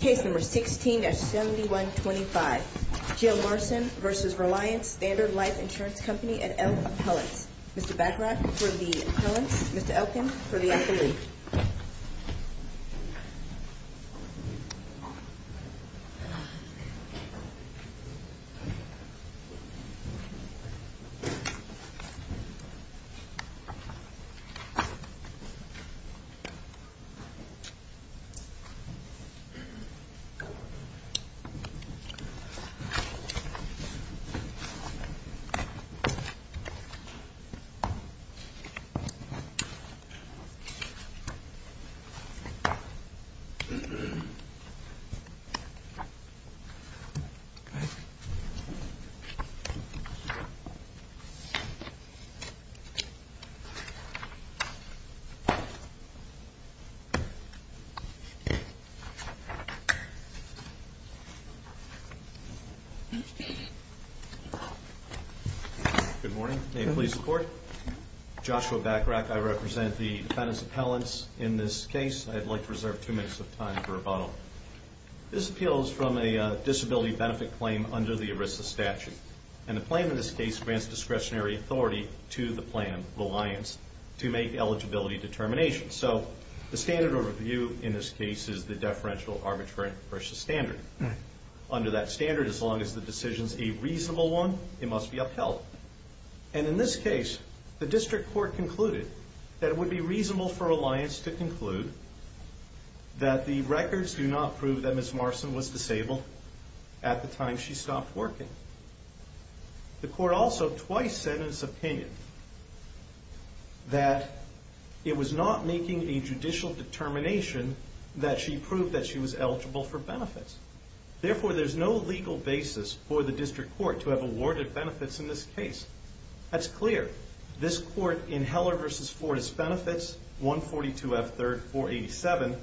Case number 16-7125, Jill Marcin v. Reliance Standard Life Insurance Company and Elk Appellants. Mr. Baccarat for the appellants, Mr. Elkin for the athlete. Mr. Baccarat for the appellants, Mr. Elkin for the athlete. Good morning. May it please the Court. Joshua Baccarat. I represent the defendant's appellants in this case. I'd like to reserve two minutes of time for rebuttal. This appeal is from a disability benefit claim under the ERISA statute. And the claim in this case grants discretionary authority to the plan, Reliance, to make eligibility determinations. So the standard of review in this case is the deferential arbitrary versus standard. Under that standard, as long as the decision is a reasonable one, it must be upheld. And in this case, the district court concluded that it would be reasonable for Reliance to conclude that the records do not prove that Ms. Marcin was disabled at the time she stopped working. The court also twice said in its opinion that it was not making a judicial determination that she proved that she was eligible for benefits. Therefore, there's no legal basis for the district court to have awarded benefits in this case. That's clear. This court, in Heller v. Fortis Benefits, 142 F. 3rd 487,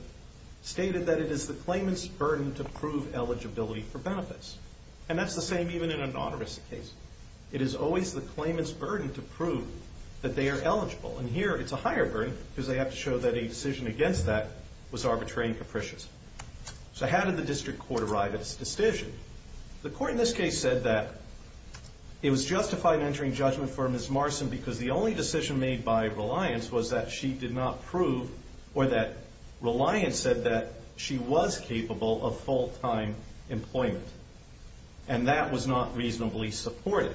stated that it is the claimant's burden to prove eligibility for benefits. And that's the same even in a non-ERISA case. It is always the claimant's burden to prove that they are eligible. And here, it's a higher burden because they have to show that a decision against that was arbitrary and capricious. So how did the district court arrive at this decision? The court in this case said that it was justified in entering judgment for Ms. Marcin because the only decision made by Reliance was that she did not prove or that Reliance said that she was capable of full-time employment. And that was not reasonably supported.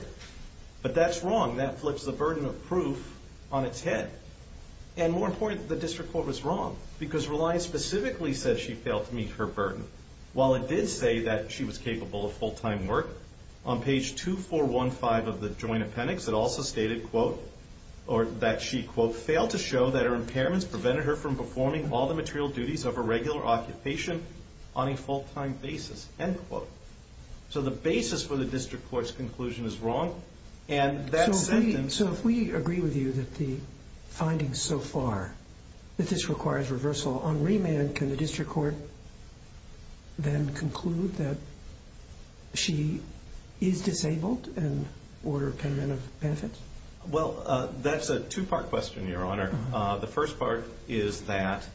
But that's wrong. That flips the burden of proof on its head. And more important, the district court was wrong because Reliance specifically said she failed to meet her burden. While it did say that she was capable of full-time work, on page 2415 of the joint appendix, it also stated, quote, or that she, quote, failed to show that her impairments prevented her from performing all the material duties of a regular occupation on a full-time basis, end quote. So the basis for the district court's conclusion is wrong, and that sentence So if we agree with you that the findings so far, that this requires reversal, on remand, can the district court then conclude that she is disabled and order payment of benefits? Well, that's a two-part question, Your Honor. The first part is that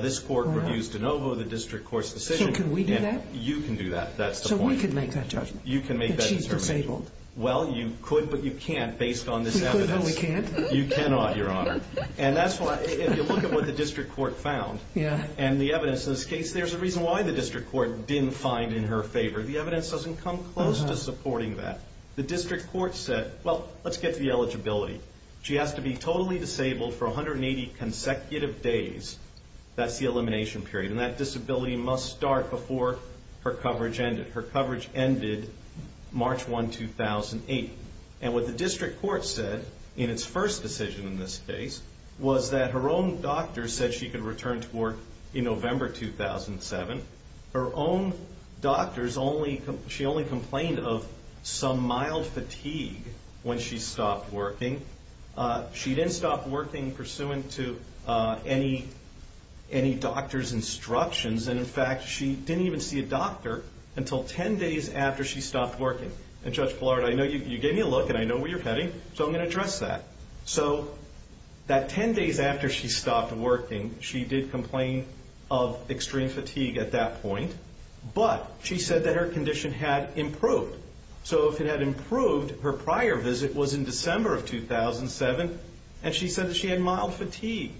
this court refused to know the district court's decision. So can we do that? You can do that. That's the point. So we can make that judgment? You can make that judgment. That she's disabled? Well, you could, but you can't based on this evidence. We could, but we can't? You cannot, Your Honor. And that's why, if you look at what the district court found, and the evidence in this case, there's a reason why the district court didn't find in her favor. The evidence doesn't come close to supporting that. The district court said, well, let's get to the eligibility. She has to be totally disabled for 180 consecutive days. That's the elimination period. And that disability must start before her coverage ended. Her coverage ended March 1, 2008. And what the district court said in its first decision in this case was that her own doctor said she could return to work in November 2007. Her own doctor, she only complained of some mild fatigue when she stopped working. She didn't stop working pursuant to any doctor's instructions. And, in fact, she didn't even see a doctor until 10 days after she stopped working. And, Judge Ballard, I know you gave me a look, and I know where you're heading, so I'm going to address that. So that 10 days after she stopped working, she did complain of extreme fatigue at that point. But she said that her condition had improved. So if it had improved, her prior visit was in December of 2007, and she said that she had mild fatigue.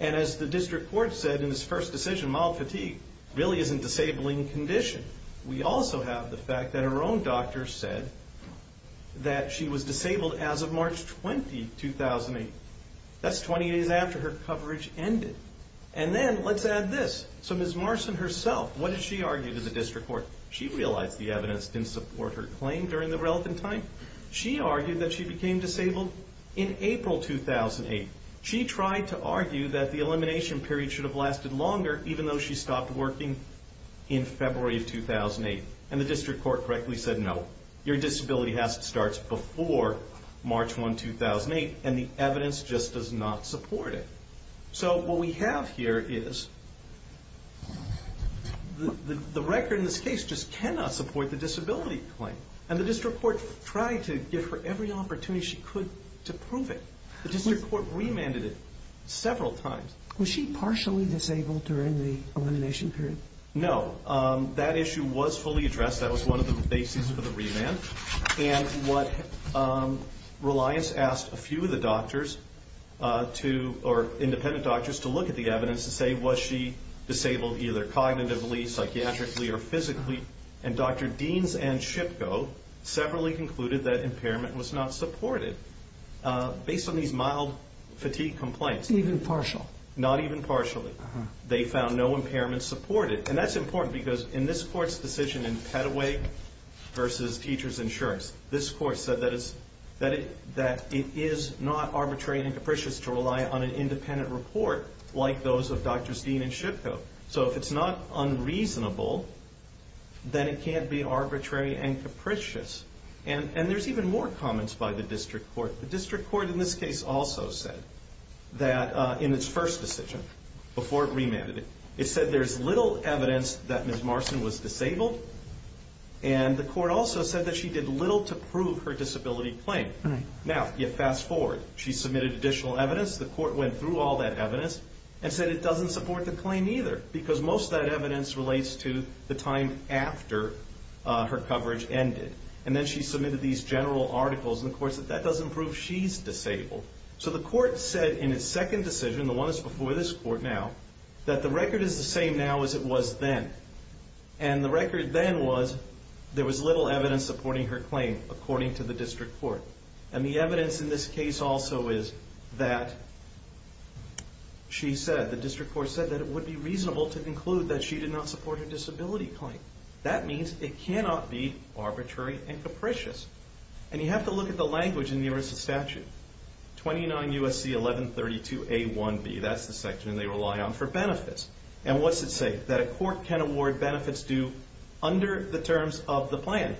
And as the district court said in its first decision, mild fatigue really isn't disabling condition. We also have the fact that her own doctor said that she was disabled as of March 20, 2008. That's 20 days after her coverage ended. And then let's add this. So Ms. Marson herself, what did she argue to the district court? She realized the evidence didn't support her claim during the relevant time. She argued that she became disabled in April 2008. She tried to argue that the elimination period should have lasted longer even though she stopped working in February of 2008. And the district court correctly said no. Your disability starts before March 1, 2008, and the evidence just does not support it. So what we have here is the record in this case just cannot support the disability claim. And the district court tried to give her every opportunity she could to prove it. The district court remanded it several times. Was she partially disabled during the elimination period? No. That issue was fully addressed. That was one of the bases for the remand. And what Reliance asked a few of the doctors to, or independent doctors, to look at the evidence to say was she disabled either cognitively, psychiatrically, or physically. And Dr. Deans and Shipko separately concluded that impairment was not supported based on these mild fatigue complaints. Even partial? Not even partially. They found no impairment supported. And that's important because in this court's decision in Petaway versus Teachers Insurance, this court said that it is not arbitrary and capricious to rely on an independent report like those of Dr. Deans and Shipko. So if it's not unreasonable, then it can't be arbitrary and capricious. And there's even more comments by the district court. The district court in this case also said that in its first decision, before it remanded it, it said there's little evidence that Ms. Marston was disabled. And the court also said that she did little to prove her disability claim. Now, fast forward. She submitted additional evidence. The court went through all that evidence and said it doesn't support the claim either because most of that evidence relates to the time after her coverage ended. And then she submitted these general articles. And the court said that doesn't prove she's disabled. So the court said in its second decision, the one that's before this court now, that the record is the same now as it was then. And the record then was there was little evidence supporting her claim, according to the district court. And the evidence in this case also is that she said, the district court said, that it would be reasonable to conclude that she did not support her disability claim. That means it cannot be arbitrary and capricious. And you have to look at the language in the ERISA statute. 29 U.S.C. 1132a1b, that's the section they rely on for benefits. And what's it say? That a court can award benefits due under the terms of the plan.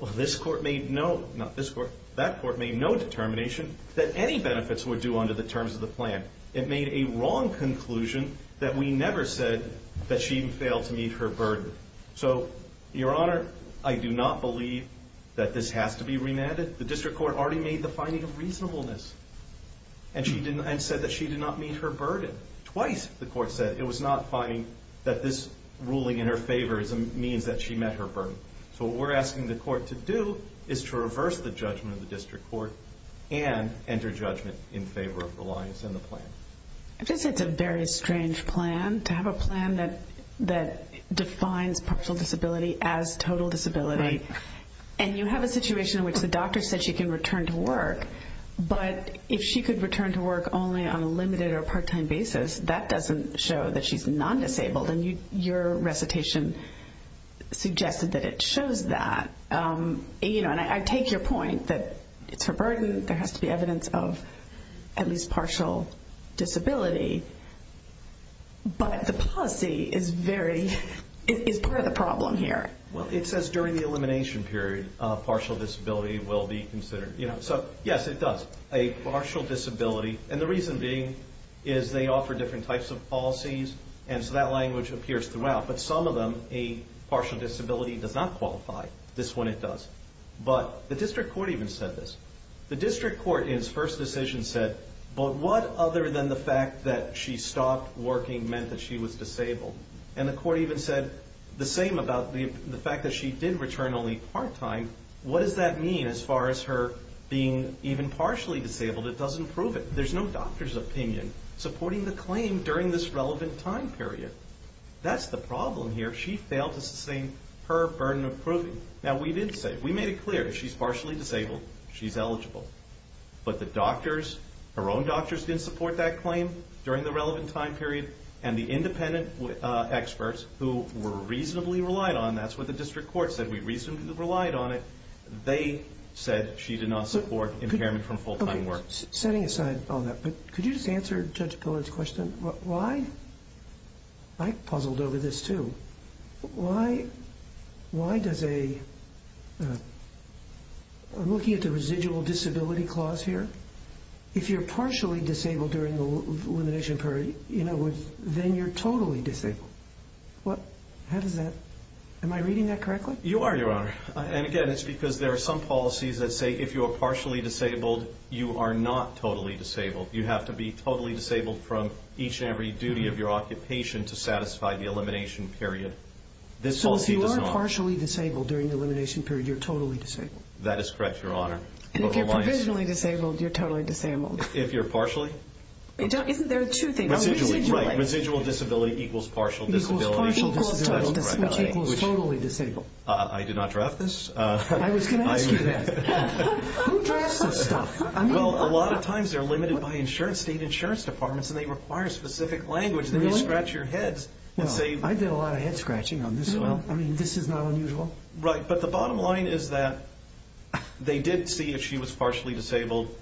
Well, this court made no, not this court, that court made no determination that any benefits were due under the terms of the plan. It made a wrong conclusion that we never said that she failed to meet her burden. So, Your Honor, I do not believe that this has to be remanded. The district court already made the finding of reasonableness and said that she did not meet her burden. Twice the court said it was not finding that this ruling in her favor means that she met her burden. So what we're asking the court to do is to reverse the judgment of the district court and enter judgment in favor of Reliance and the plan. I just think it's a very strange plan, to have a plan that defines partial disability as total disability. And you have a situation in which the doctor said she can return to work, but if she could return to work only on a limited or part-time basis, that doesn't show that she's non-disabled. And your recitation suggested that it shows that. And I take your point that it's her burden, there has to be evidence of at least partial disability, but the policy is part of the problem here. Well, it says during the elimination period, partial disability will be considered. So, yes, it does, a partial disability. And the reason being is they offer different types of policies, and so that language appears throughout. But some of them, a partial disability does not qualify. This one it does. But the district court even said this. The district court in its first decision said, but what other than the fact that she stopped working meant that she was disabled? And the court even said the same about the fact that she did return only part-time. What does that mean as far as her being even partially disabled? It doesn't prove it. There's no doctor's opinion supporting the claim during this relevant time period. That's the problem here. She failed to sustain her burden of proving. Now, we did say, we made it clear, she's partially disabled, she's eligible. But the doctors, her own doctors didn't support that claim during the relevant time period, and the independent experts who were reasonably relied on, that's what the district court said, we reasonably relied on it, they said she did not support impairment from full-time work. Setting aside all that, could you just answer Judge Pillard's question? Why, I puzzled over this too, why does a, I'm looking at the residual disability clause here, if you're partially disabled during the elimination period, in other words, then you're totally disabled. What, how does that, am I reading that correctly? You are, Your Honor. And again, it's because there are some policies that say if you are partially disabled, you are not totally disabled. You have to be totally disabled from each and every duty of your occupation to satisfy the elimination period. This policy does not. So if you are partially disabled during the elimination period, you're totally disabled. That is correct, Your Honor. And if you're provisionally disabled, you're totally disabled. If you're partially? Isn't there two things? Residually, right. Residual disability equals partial disability. Which equals totally disabled. I did not draft this. I was going to ask you that. Who drafts this stuff? Well, a lot of times they're limited by state insurance departments, and they require specific language. Then you scratch your heads and say. I did a lot of head scratching on this one. I mean, this is not unusual. Right. But the bottom line is that they did see that she was partially disabled,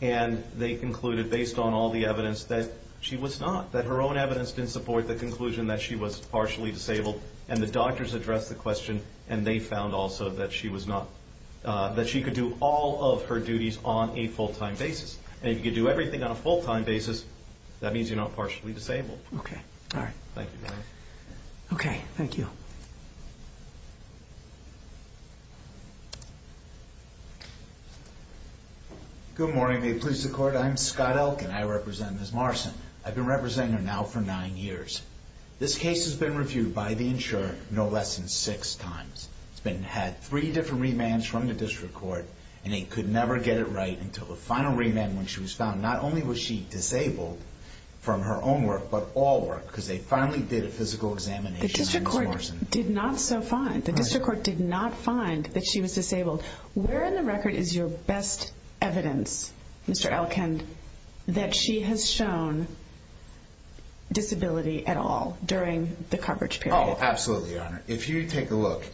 and they concluded based on all the evidence that she was not, that her own evidence didn't support the conclusion that she was partially disabled. And the doctors addressed the question, and they found also that she could do all of her duties on a full-time basis. And if you could do everything on a full-time basis, that means you're not partially disabled. Okay. All right. Thank you, Your Honor. Okay. Thank you. Good morning. May it please the Court. I'm Scott Elk, and I represent Ms. Morrison. I've been representing her now for nine years. This case has been reviewed by the insurer no less than six times. It's had three different remands from the district court, and they could never get it right until the final remand when she was found. Not only was she disabled from her own work, but all work, because they finally did a physical examination on Ms. Morrison. The district court did not so find. The district court did not find that she was disabled. Where in the record is your best evidence, Mr. Elkind, that she has shown disability at all during the coverage period? Oh, absolutely, Your Honor. If you take a look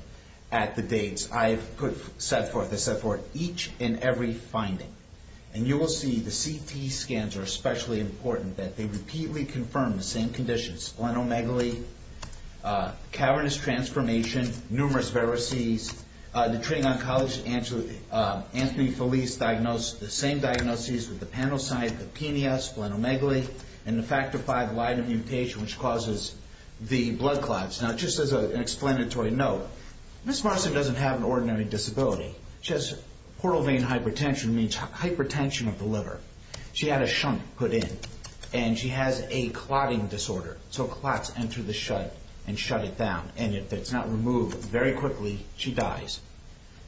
at the dates I've set forth, I set forth each and every finding. And you will see the CT scans are especially important, that they repeatedly confirm the same conditions, splenomegaly, cavernous transformation, numerous varices, the treating oncologist, Anthony Felice, the same diagnoses with the panocyte, the PNES, splenomegaly, and the factor V Lyme mutation, which causes the blood clots. Now, just as an explanatory note, Ms. Morrison doesn't have an ordinary disability. She has portal vein hypertension, which means hypertension of the liver. She had a shunt put in, and she has a clotting disorder. So clots enter the shut and shut it down. And if it's not removed very quickly, she dies.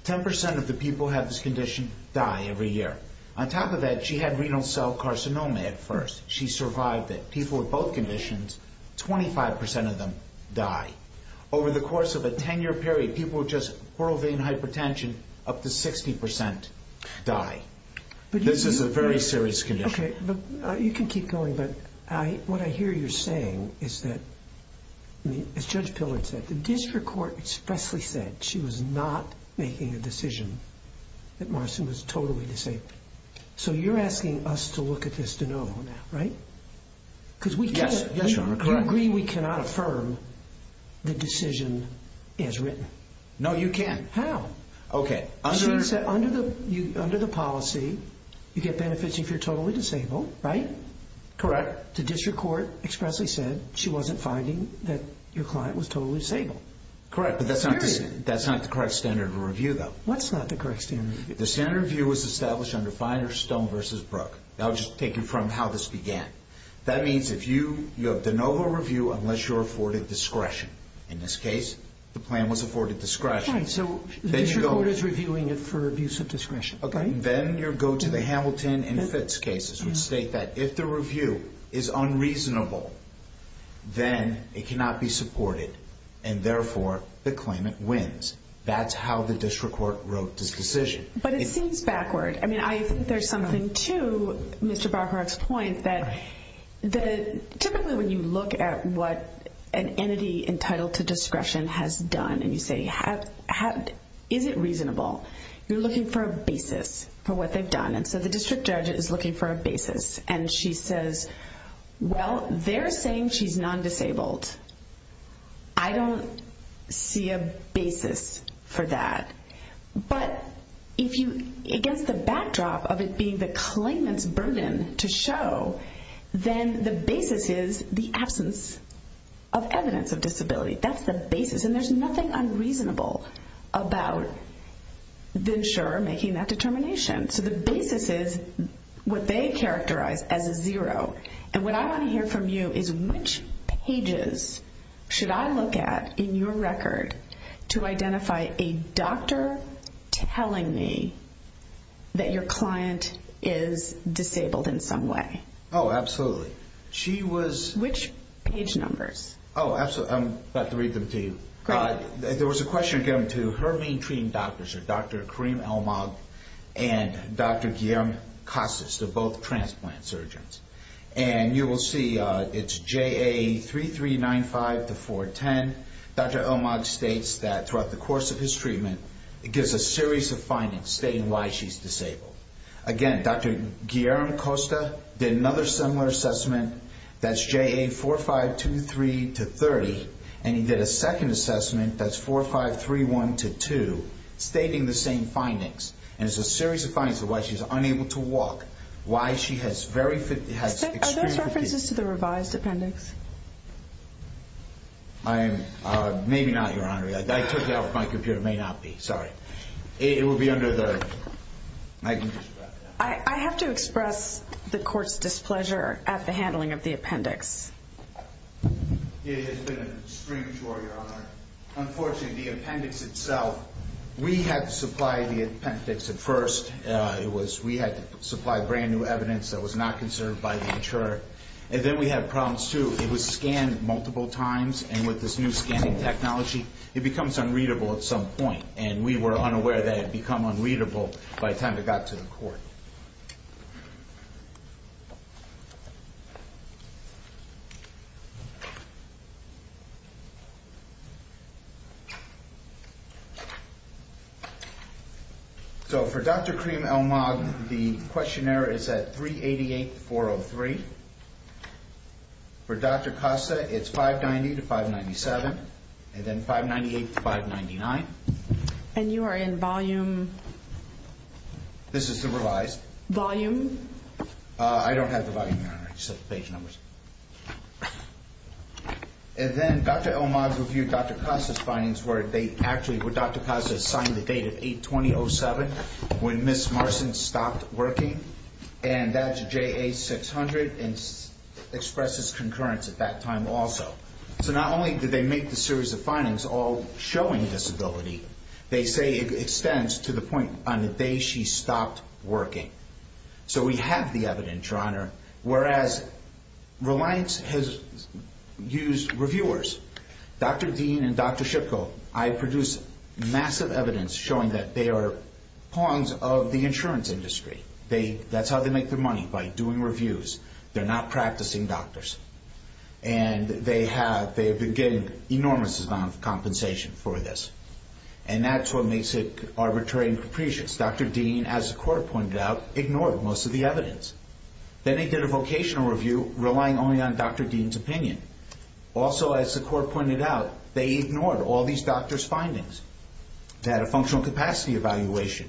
Ten percent of the people who have this condition die every year. On top of that, she had renal cell carcinoma at first. She survived it. People with both conditions, 25 percent of them die. Over the course of a 10-year period, people with just portal vein hypertension, up to 60 percent, die. This is a very serious condition. Okay, but you can keep going. But what I hear you saying is that, as Judge Pillard said, the district court expressly said she was not making a decision that Morrison was totally disabled. So you're asking us to look at this to know, right? Yes, Your Honor. Do you agree we cannot affirm the decision as written? No, you can't. How? Okay, under the policy, you get benefits if you're totally disabled, right? Correct. But the district court expressly said she wasn't finding that your client was totally disabled. Correct, but that's not the correct standard of review, though. What's not the correct standard of review? The standard of review was established under Feiner, Stone v. Brook. I'll just take you from how this began. That means if you have de novo review unless you're afforded discretion. In this case, the plan was afforded discretion. So the district court is reviewing it for abuse of discretion, right? Then you go to the Hamilton and Fitz cases, which state that if the review is unreasonable, then it cannot be supported, and therefore, the claimant wins. That's how the district court wrote this decision. But it seems backward. I mean, I think there's something to Mr. Bacharach's point that typically when you look at what an entity entitled to discretion has done and you say, is it reasonable, you're looking for a basis for what they've done. So the district judge is looking for a basis, and she says, well, they're saying she's non-disabled. I don't see a basis for that. But against the backdrop of it being the claimant's burden to show, then the basis is the absence of evidence of disability. That's the basis. And there's nothing unreasonable about the insurer making that determination. So the basis is what they characterize as a zero. And what I want to hear from you is which pages should I look at in your record to identify a doctor telling me that your client is disabled in some way? Oh, absolutely. Which page numbers? Oh, absolutely. I'm about to read them to you. There was a question again to her main treating doctors, Dr. Karim Elmag and Dr. Guillermo Costa. They're both transplant surgeons. And you will see it's JA3395-410. Dr. Elmag states that throughout the course of his treatment, it gives a series of findings stating why she's disabled. Again, Dr. Guillermo Costa did another similar assessment. That's JA4523-30. And he did a second assessment, that's 4531-2, stating the same findings. And it's a series of findings of why she's unable to walk, why she has very extreme fatigue. Are those references to the revised appendix? Maybe not, Your Honor. I took it off my computer. It may not be. Sorry. It will be under the my computer. I have to express the court's displeasure at the handling of the appendix. It has been an extreme chore, Your Honor. Unfortunately, the appendix itself, we had to supply the appendix at first. We had to supply brand new evidence that was not conserved by the insurer. And then we had problems, too. It was scanned multiple times. And with this new scanning technology, it becomes unreadable at some point. And we were unaware that it had become unreadable by the time it got to the court. So for Dr. Kareem El Magh, the questionnaire is at 388-403. For Dr. Costa, it's 590-597. And then 598-599. And you are in volume? This is the revised. Volume? I don't have the volume, Your Honor. I just have the page numbers. And then Dr. El Magh reviewed Dr. Costa's findings where they actually, where Dr. Costa signed the date of 8-20-07 when Ms. Marson stopped working. And that's JA-600 and expresses concurrence at that time also. So not only did they make the series of findings all showing disability, they say it extends to the point on the day she stopped working. So we have the evidence, Your Honor. Whereas Reliance has used reviewers, Dr. Dean and Dr. Shipko, I produced massive evidence showing that they are pawns of the insurance industry. That's how they make their money, by doing reviews. They're not practicing doctors. And they have been getting enormous amounts of compensation for this. And that's what makes it arbitrary and capricious. Dr. Dean, as the court pointed out, ignored most of the evidence. Then they did a vocational review, relying only on Dr. Dean's opinion. Also, as the court pointed out, they ignored all these doctors' findings. They had a functional capacity evaluation.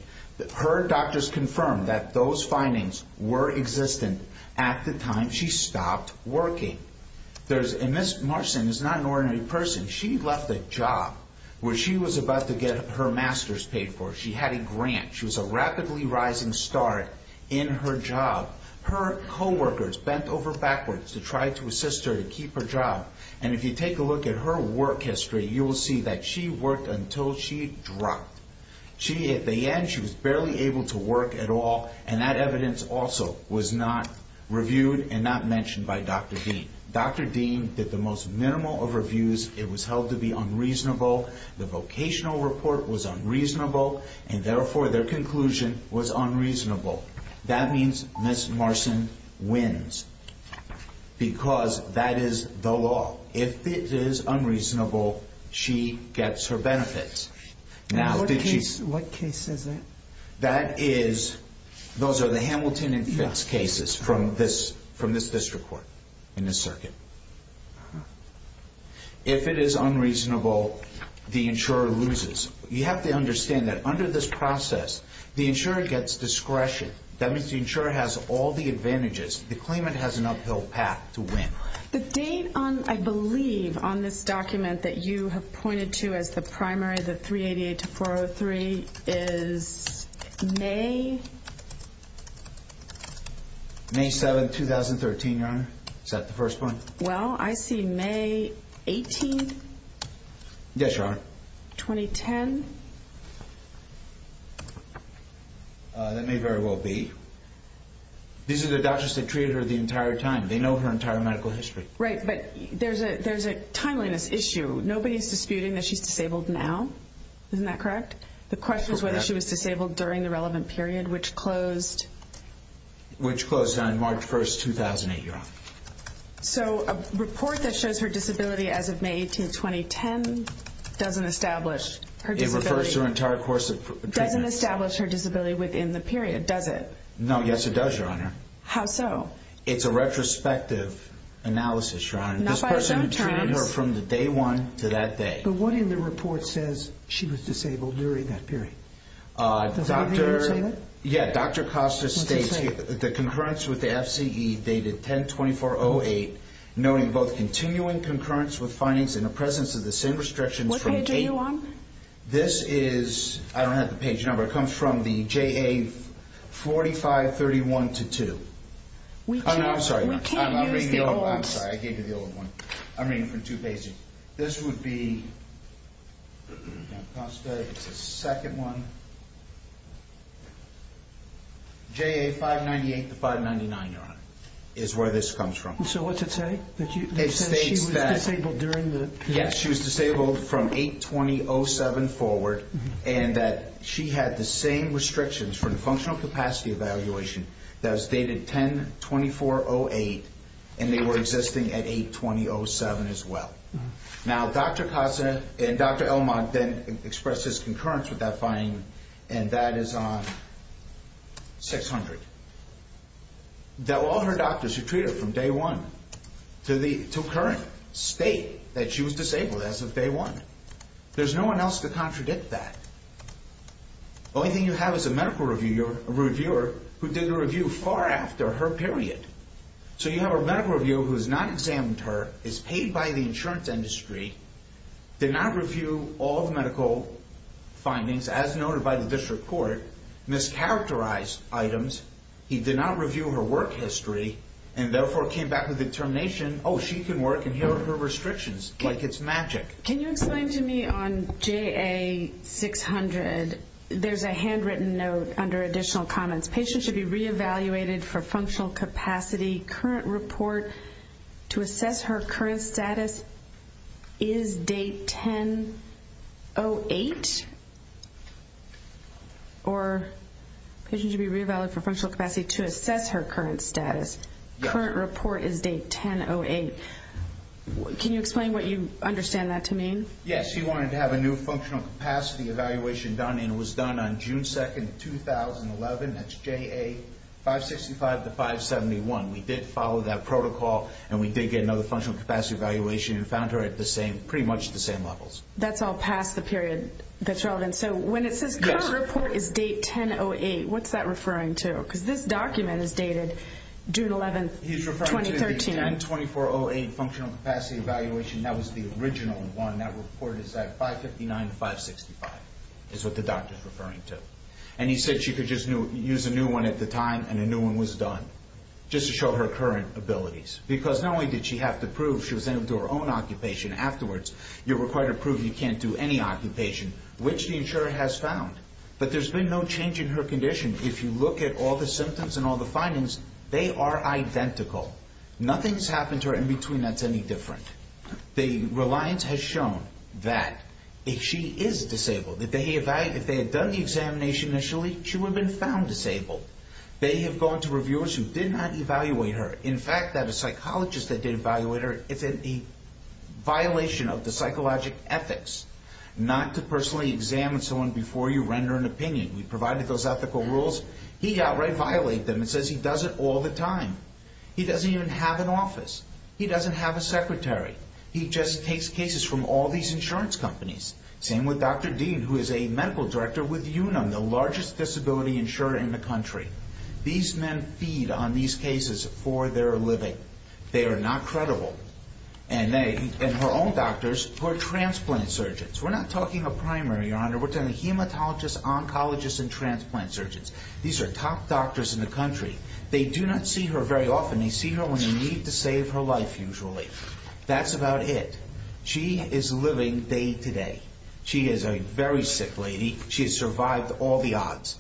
Her doctors confirmed that those findings were existent at the time she stopped working. And Ms. Marson is not an ordinary person. She left a job where she was about to get her master's paid for. She had a grant. She was a rapidly rising star in her job. Her co-workers bent over backwards to try to assist her to keep her job. And if you take a look at her work history, you will see that she worked until she dropped. She, at the end, she was barely able to work at all. And that evidence also was not reviewed and not mentioned by Dr. Dean. Dr. Dean did the most minimal of reviews. It was held to be unreasonable. The vocational report was unreasonable. And therefore, their conclusion was unreasonable. That means Ms. Marson wins. Because that is the law. If it is unreasonable, she gets her benefits. What case is it? That is, those are the Hamilton and Fitz cases from this district court in this circuit. If it is unreasonable, the insurer loses. You have to understand that under this process, the insurer gets discretion. That means the insurer has all the advantages. The claimant has an uphill path to win. The date on, I believe, on this document that you have pointed to as the primary, the 388-403, is May... May 7, 2013, Your Honor. Is that the first point? Well, I see May 18. Yes, Your Honor. 2010. That may very well be. These are the doctors that treated her the entire time. They know her entire medical history. Right, but there's a timeliness issue. Nobody is disputing that she's disabled now. Isn't that correct? The question is whether she was disabled during the relevant period, which closed... Which closed on March 1, 2008, Your Honor. So a report that shows her disability as of May 18, 2010 doesn't establish her disability... It refers to her entire course of treatment. ...doesn't establish her disability within the period, does it? No, yes it does, Your Honor. How so? It's a retrospective analysis, Your Honor. Not by some terms. This person treated her from the day one to that day. But what in the report says she was disabled during that period? Does anybody understand that? Yeah, Dr. Costa states here... What's it say? The concurrence with the FCE dated 10-2408, noting both continuing concurrence with findings in the presence of the same restrictions from... Which page are you on? This is... I don't have the page number. It comes from the JA4531-2. We can't use the old... I'm sorry, I gave you the old one. I'm reading from two pages. This would be... Dr. Costa, it's the second one. JA598-599, Your Honor, is where this comes from. So what's it say? It states that... It says she was disabled during the period. Yes, she was disabled from 8-2-0-7 forward, and that she had the same restrictions from the functional capacity evaluation that was dated 10-2-4-0-8, and they were existing at 8-2-0-7 as well. Now, Dr. Costa and Dr. Elmont then expressed this concurrence with that finding, and that is on 600. That all her doctors should treat her from day one to current state that she was disabled as of day one. There's no one else to contradict that. The only thing you have is a medical reviewer who did the review far after her period. So you have a medical reviewer who has not examined her, is paid by the insurance industry, did not review all the medical findings as noted by the district court, mischaracterized items, he did not review her work history, and therefore came back with determination, oh, she can work and here are her restrictions, like it's magic. Can you explain to me on JA600, there's a handwritten note under additional comments, patient should be re-evaluated for functional capacity. Current report to assess her current status is date 10-0-8, or patient should be re-evaluated for functional capacity to assess her current status. Current report is date 10-0-8. Can you explain what you understand that to mean? Yes, she wanted to have a new functional capacity evaluation done and it was done on June 2, 2011. That's JA565 to 571. We did follow that protocol and we did get another functional capacity evaluation and found her at pretty much the same levels. That's all past the period that's relevant. So when it says current report is date 10-0-8, what's that referring to? Because this document is dated June 11, 2013. Functional capacity evaluation, that was the original one. That report is at 559-565, is what the doctor is referring to. And he said she could just use a new one at the time and a new one was done, just to show her current abilities. Because not only did she have to prove she was able to do her own occupation afterwards, you're required to prove you can't do any occupation, which the insurer has found. But there's been no change in her condition. If you look at all the symptoms and all the findings, they are identical. Nothing's happened to her in between that's any different. The reliance has shown that she is disabled. If they had done the examination initially, she would have been found disabled. They have gone to reviewers who did not evaluate her. In fact, that a psychologist that did evaluate her, it's a violation of the psychological ethics not to personally examine someone before you render an opinion. We provided those ethical rules. He outright violated them and says he does it all the time. He doesn't even have an office. He doesn't have a secretary. He just takes cases from all these insurance companies. Same with Dr. Dean, who is a medical director with Unum, the largest disability insurer in the country. These men feed on these cases for their living. They are not credible. And her own doctors who are transplant surgeons. We're not talking a primary, Your Honor. We're talking hematologists, oncologists, and transplant surgeons. These are top doctors in the country. They do not see her very often. They see her when they need to save her life usually. That's about it. She is living day to day. She is a very sick lady. She has survived all the odds.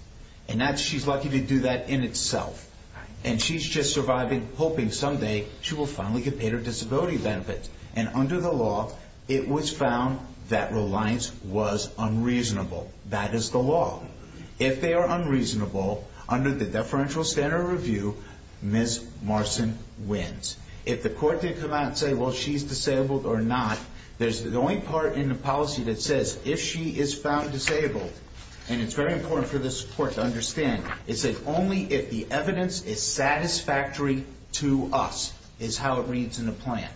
And she's lucky to do that in itself. And she's just surviving, hoping someday she will finally get paid her disability benefits. And under the law, it was found that Reliance was unreasonable. That is the law. If they are unreasonable, under the deferential standard review, Ms. Marson wins. If the court did come out and say, well, she's disabled or not, there's the only part in the policy that says, if she is found disabled, and it's very important for this court to understand, it says only if the evidence is satisfactory to us is how it reads in the plan.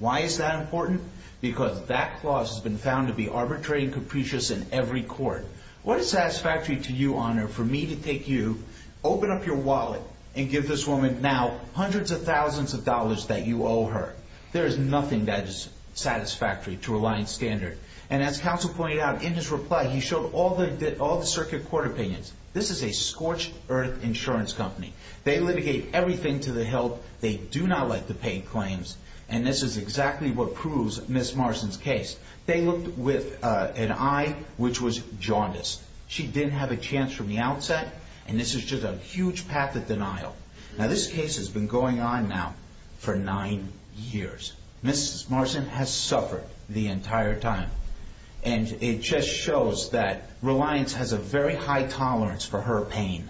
Why is that important? Because that clause has been found to be arbitrary and capricious in every court. What is satisfactory to you, Your Honor, for me to take you, open up your wallet, and give this woman now hundreds of thousands of dollars that you owe her? There is nothing that is satisfactory to Reliance standard. And as counsel pointed out in his reply, he showed all the circuit court opinions. This is a scorched earth insurance company. They litigate everything to the help. They do not let the paid claims. And this is exactly what proves Ms. Marson's case. They looked with an eye which was jaundiced. She didn't have a chance from the outset, and this is just a huge path of denial. Now, this case has been going on now for nine years. Ms. Marson has suffered the entire time. And it just shows that Reliance has a very high tolerance for her pain.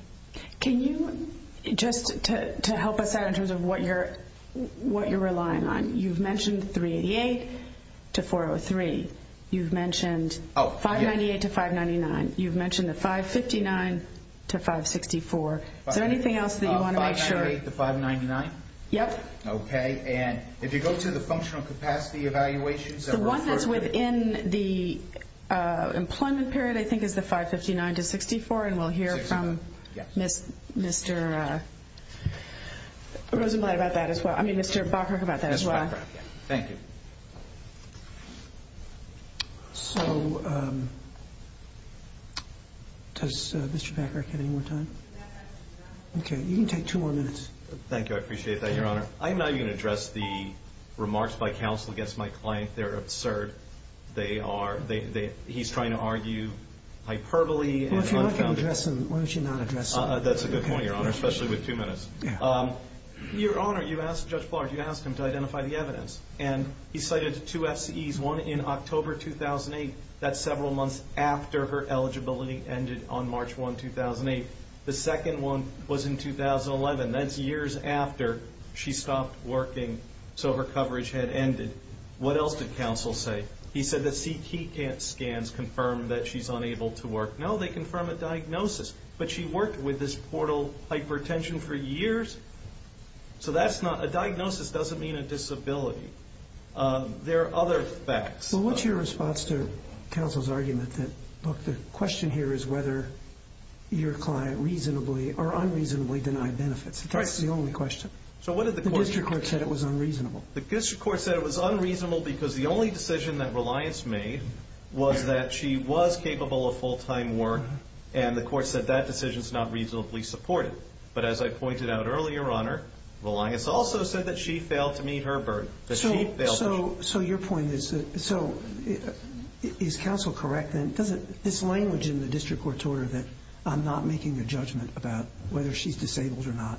Can you, just to help us out in terms of what you're relying on, you've mentioned 388 to 403. You've mentioned 598 to 599. You've mentioned the 559 to 564. Is there anything else that you want to make sure? 598 to 599? Yep. Okay. And if you go to the functional capacity evaluations that were referred to? It's within the employment period, I think, is the 559 to 64, and we'll hear from Mr. Rosenblatt about that as well. I mean, Mr. Bacharach about that as well. Thank you. So does Mr. Bacharach have any more time? Okay. You can take two more minutes. Thank you. I appreciate that, Your Honor. I'm not going to address the remarks by counsel against my client. They're absurd. He's trying to argue hyperbole. Well, if you're not going to address them, why don't you not address them? That's a good point, Your Honor, especially with two minutes. Your Honor, you asked Judge Flaherty, you asked him to identify the evidence, and he cited two FCEs, one in October 2008. That's several months after her eligibility ended on March 1, 2008. The second one was in 2011. That's years after she stopped working, so her coverage had ended. What else did counsel say? He said that CT scans confirm that she's unable to work. No, they confirm a diagnosis. But she worked with this portal hypertension for years, so that's not a diagnosis. It doesn't mean a disability. There are other facts. Well, what's your response to counsel's argument that, look, the question here is whether your client reasonably or unreasonably denied benefits. That's the only question. The district court said it was unreasonable. The district court said it was unreasonable because the only decision that Reliance made was that she was capable of full-time work, and the court said that decision is not reasonably supported. But as I pointed out earlier, Your Honor, Reliance also said that she failed to meet her burden. So your point is, is counsel correct? This language in the district court order that I'm not making a judgment about whether she's disabled or not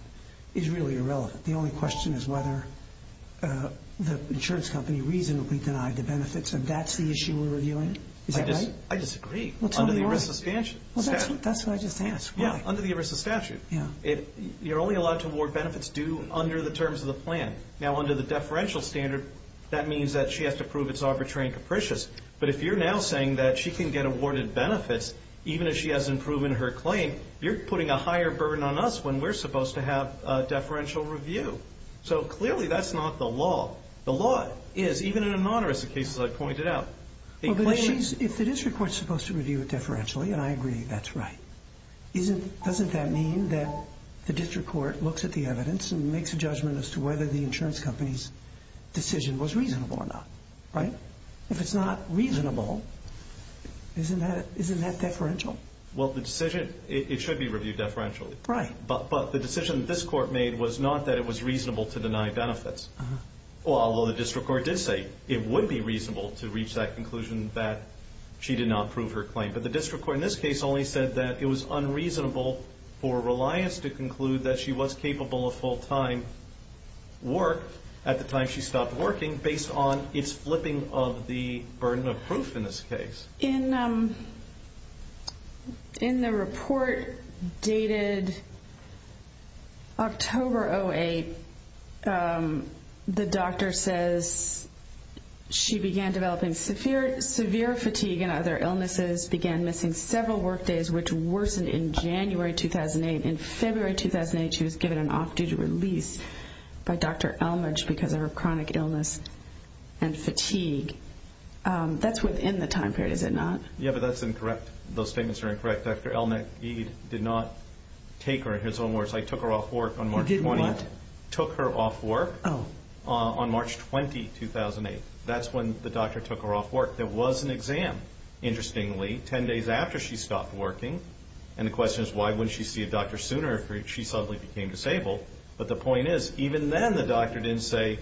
is really irrelevant. The only question is whether the insurance company reasonably denied the benefits, and that's the issue we're reviewing. Is that right? I disagree. Under the ERISA statute. Well, that's what I just asked. Yeah, under the ERISA statute. You're only allowed to award benefits due under the terms of the plan. Now, under the deferential standard, that means that she has to prove it's arbitrary and capricious. But if you're now saying that she can get awarded benefits even if she hasn't proven her claim, you're putting a higher burden on us when we're supposed to have a deferential review. So clearly that's not the law. The law is, even in anonymous cases I've pointed out. If the district court is supposed to review it deferentially, and I agree that's right, doesn't that mean that the district court looks at the evidence and makes a judgment as to whether the insurance company's decision was reasonable or not, right? If it's not reasonable, isn't that deferential? Well, the decision, it should be reviewed deferentially. Right. But the decision that this court made was not that it was reasonable to deny benefits, although the district court did say it would be reasonable to reach that conclusion that she did not prove her claim. But the district court in this case only said that it was unreasonable for Reliance to conclude that she was capable of full-time work at the time she stopped working based on its flipping of the burden of proof in this case. In the report dated October 08, the doctor says she began developing severe fatigue and other illnesses, began missing several work days, which worsened in January 2008. In February 2008, she was given an off-duty release by Dr. Elmage because of her chronic illness and fatigue. That's within the time period, is it not? Yeah, but that's incorrect. Those statements are incorrect. Dr. Elmage did not take her in his own words. I took her off work on March 20. You did what? Took her off work on March 20, 2008. That's when the doctor took her off work. There was an exam, interestingly, 10 days after she stopped working. And the question is, why wouldn't she see a doctor sooner if she suddenly became disabled? But the point is, even then the doctor didn't say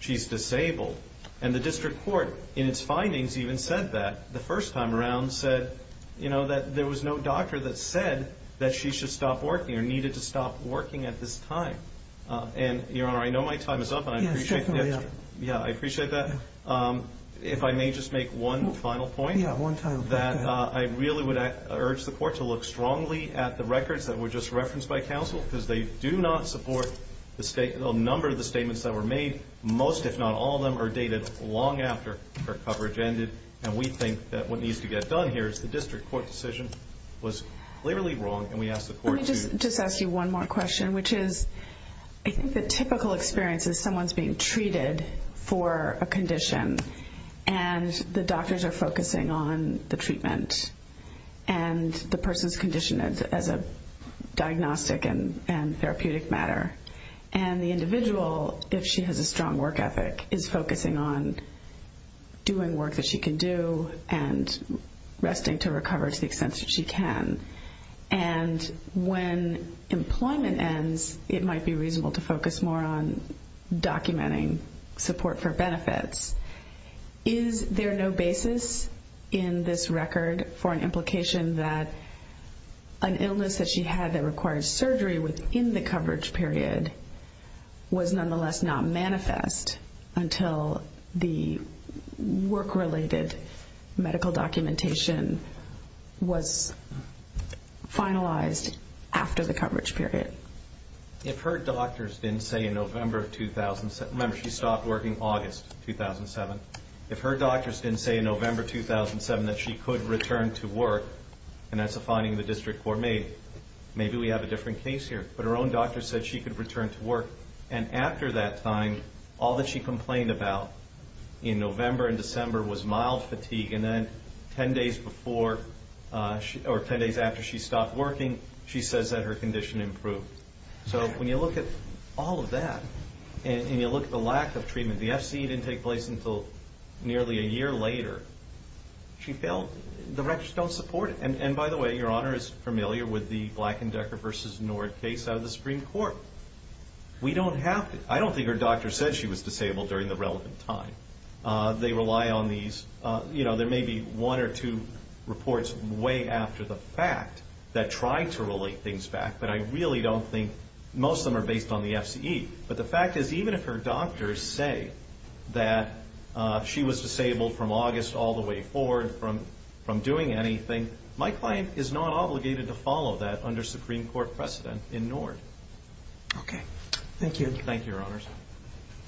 she's disabled. And the district court, in its findings, even said that the first time around, said, you know, that there was no doctor that said that she should stop working or needed to stop working at this time. And, Your Honor, I know my time is up. Yeah, it's definitely up. Yeah, I appreciate that. If I may just make one final point. Yeah, one final point. That I really would urge the court to look strongly at the records that were just referenced by counsel because they do not support the number of the statements that were made. Most, if not all of them, are dated long after her coverage ended. And we think that what needs to get done here is the district court decision was clearly wrong, and we ask the court to... Let me just ask you one more question, which is, I think the typical experience is someone's being treated for a condition, and the doctors are focusing on the treatment and the person's condition as a diagnostic and therapeutic matter. And the individual, if she has a strong work ethic, is focusing on doing work that she can do and resting to recover to the extent that she can. And when employment ends, it might be reasonable to focus more on documenting support for benefits. Is there no basis in this record for an implication that an illness that she had that required surgery within the coverage period was nonetheless not manifest until the work-related medical documentation was finalized after the coverage period? If her doctors didn't say in November 2007... Remember, she stopped working August 2007. If her doctors didn't say in November 2007 that she could return to work, and that's a finding the district court made, maybe we have a different case here. But her own doctors said she could return to work. And after that time, all that she complained about in November and December was mild fatigue. And then 10 days after she stopped working, she says that her condition improved. So when you look at all of that and you look at the lack of treatment, the FC didn't take place until nearly a year later. The records don't support it. And, by the way, Your Honor is familiar with the Black & Decker v. Nord case out of the Supreme Court. I don't think her doctor said she was disabled during the relevant time. They rely on these. There may be one or two reports way after the fact that try to relate things back, but I really don't think most of them are based on the FCE. But the fact is even if her doctors say that she was disabled from August all the way forward from doing anything, my client is not obligated to follow that under Supreme Court precedent in Nord. Okay. Thank you. Thank you, Your Honors.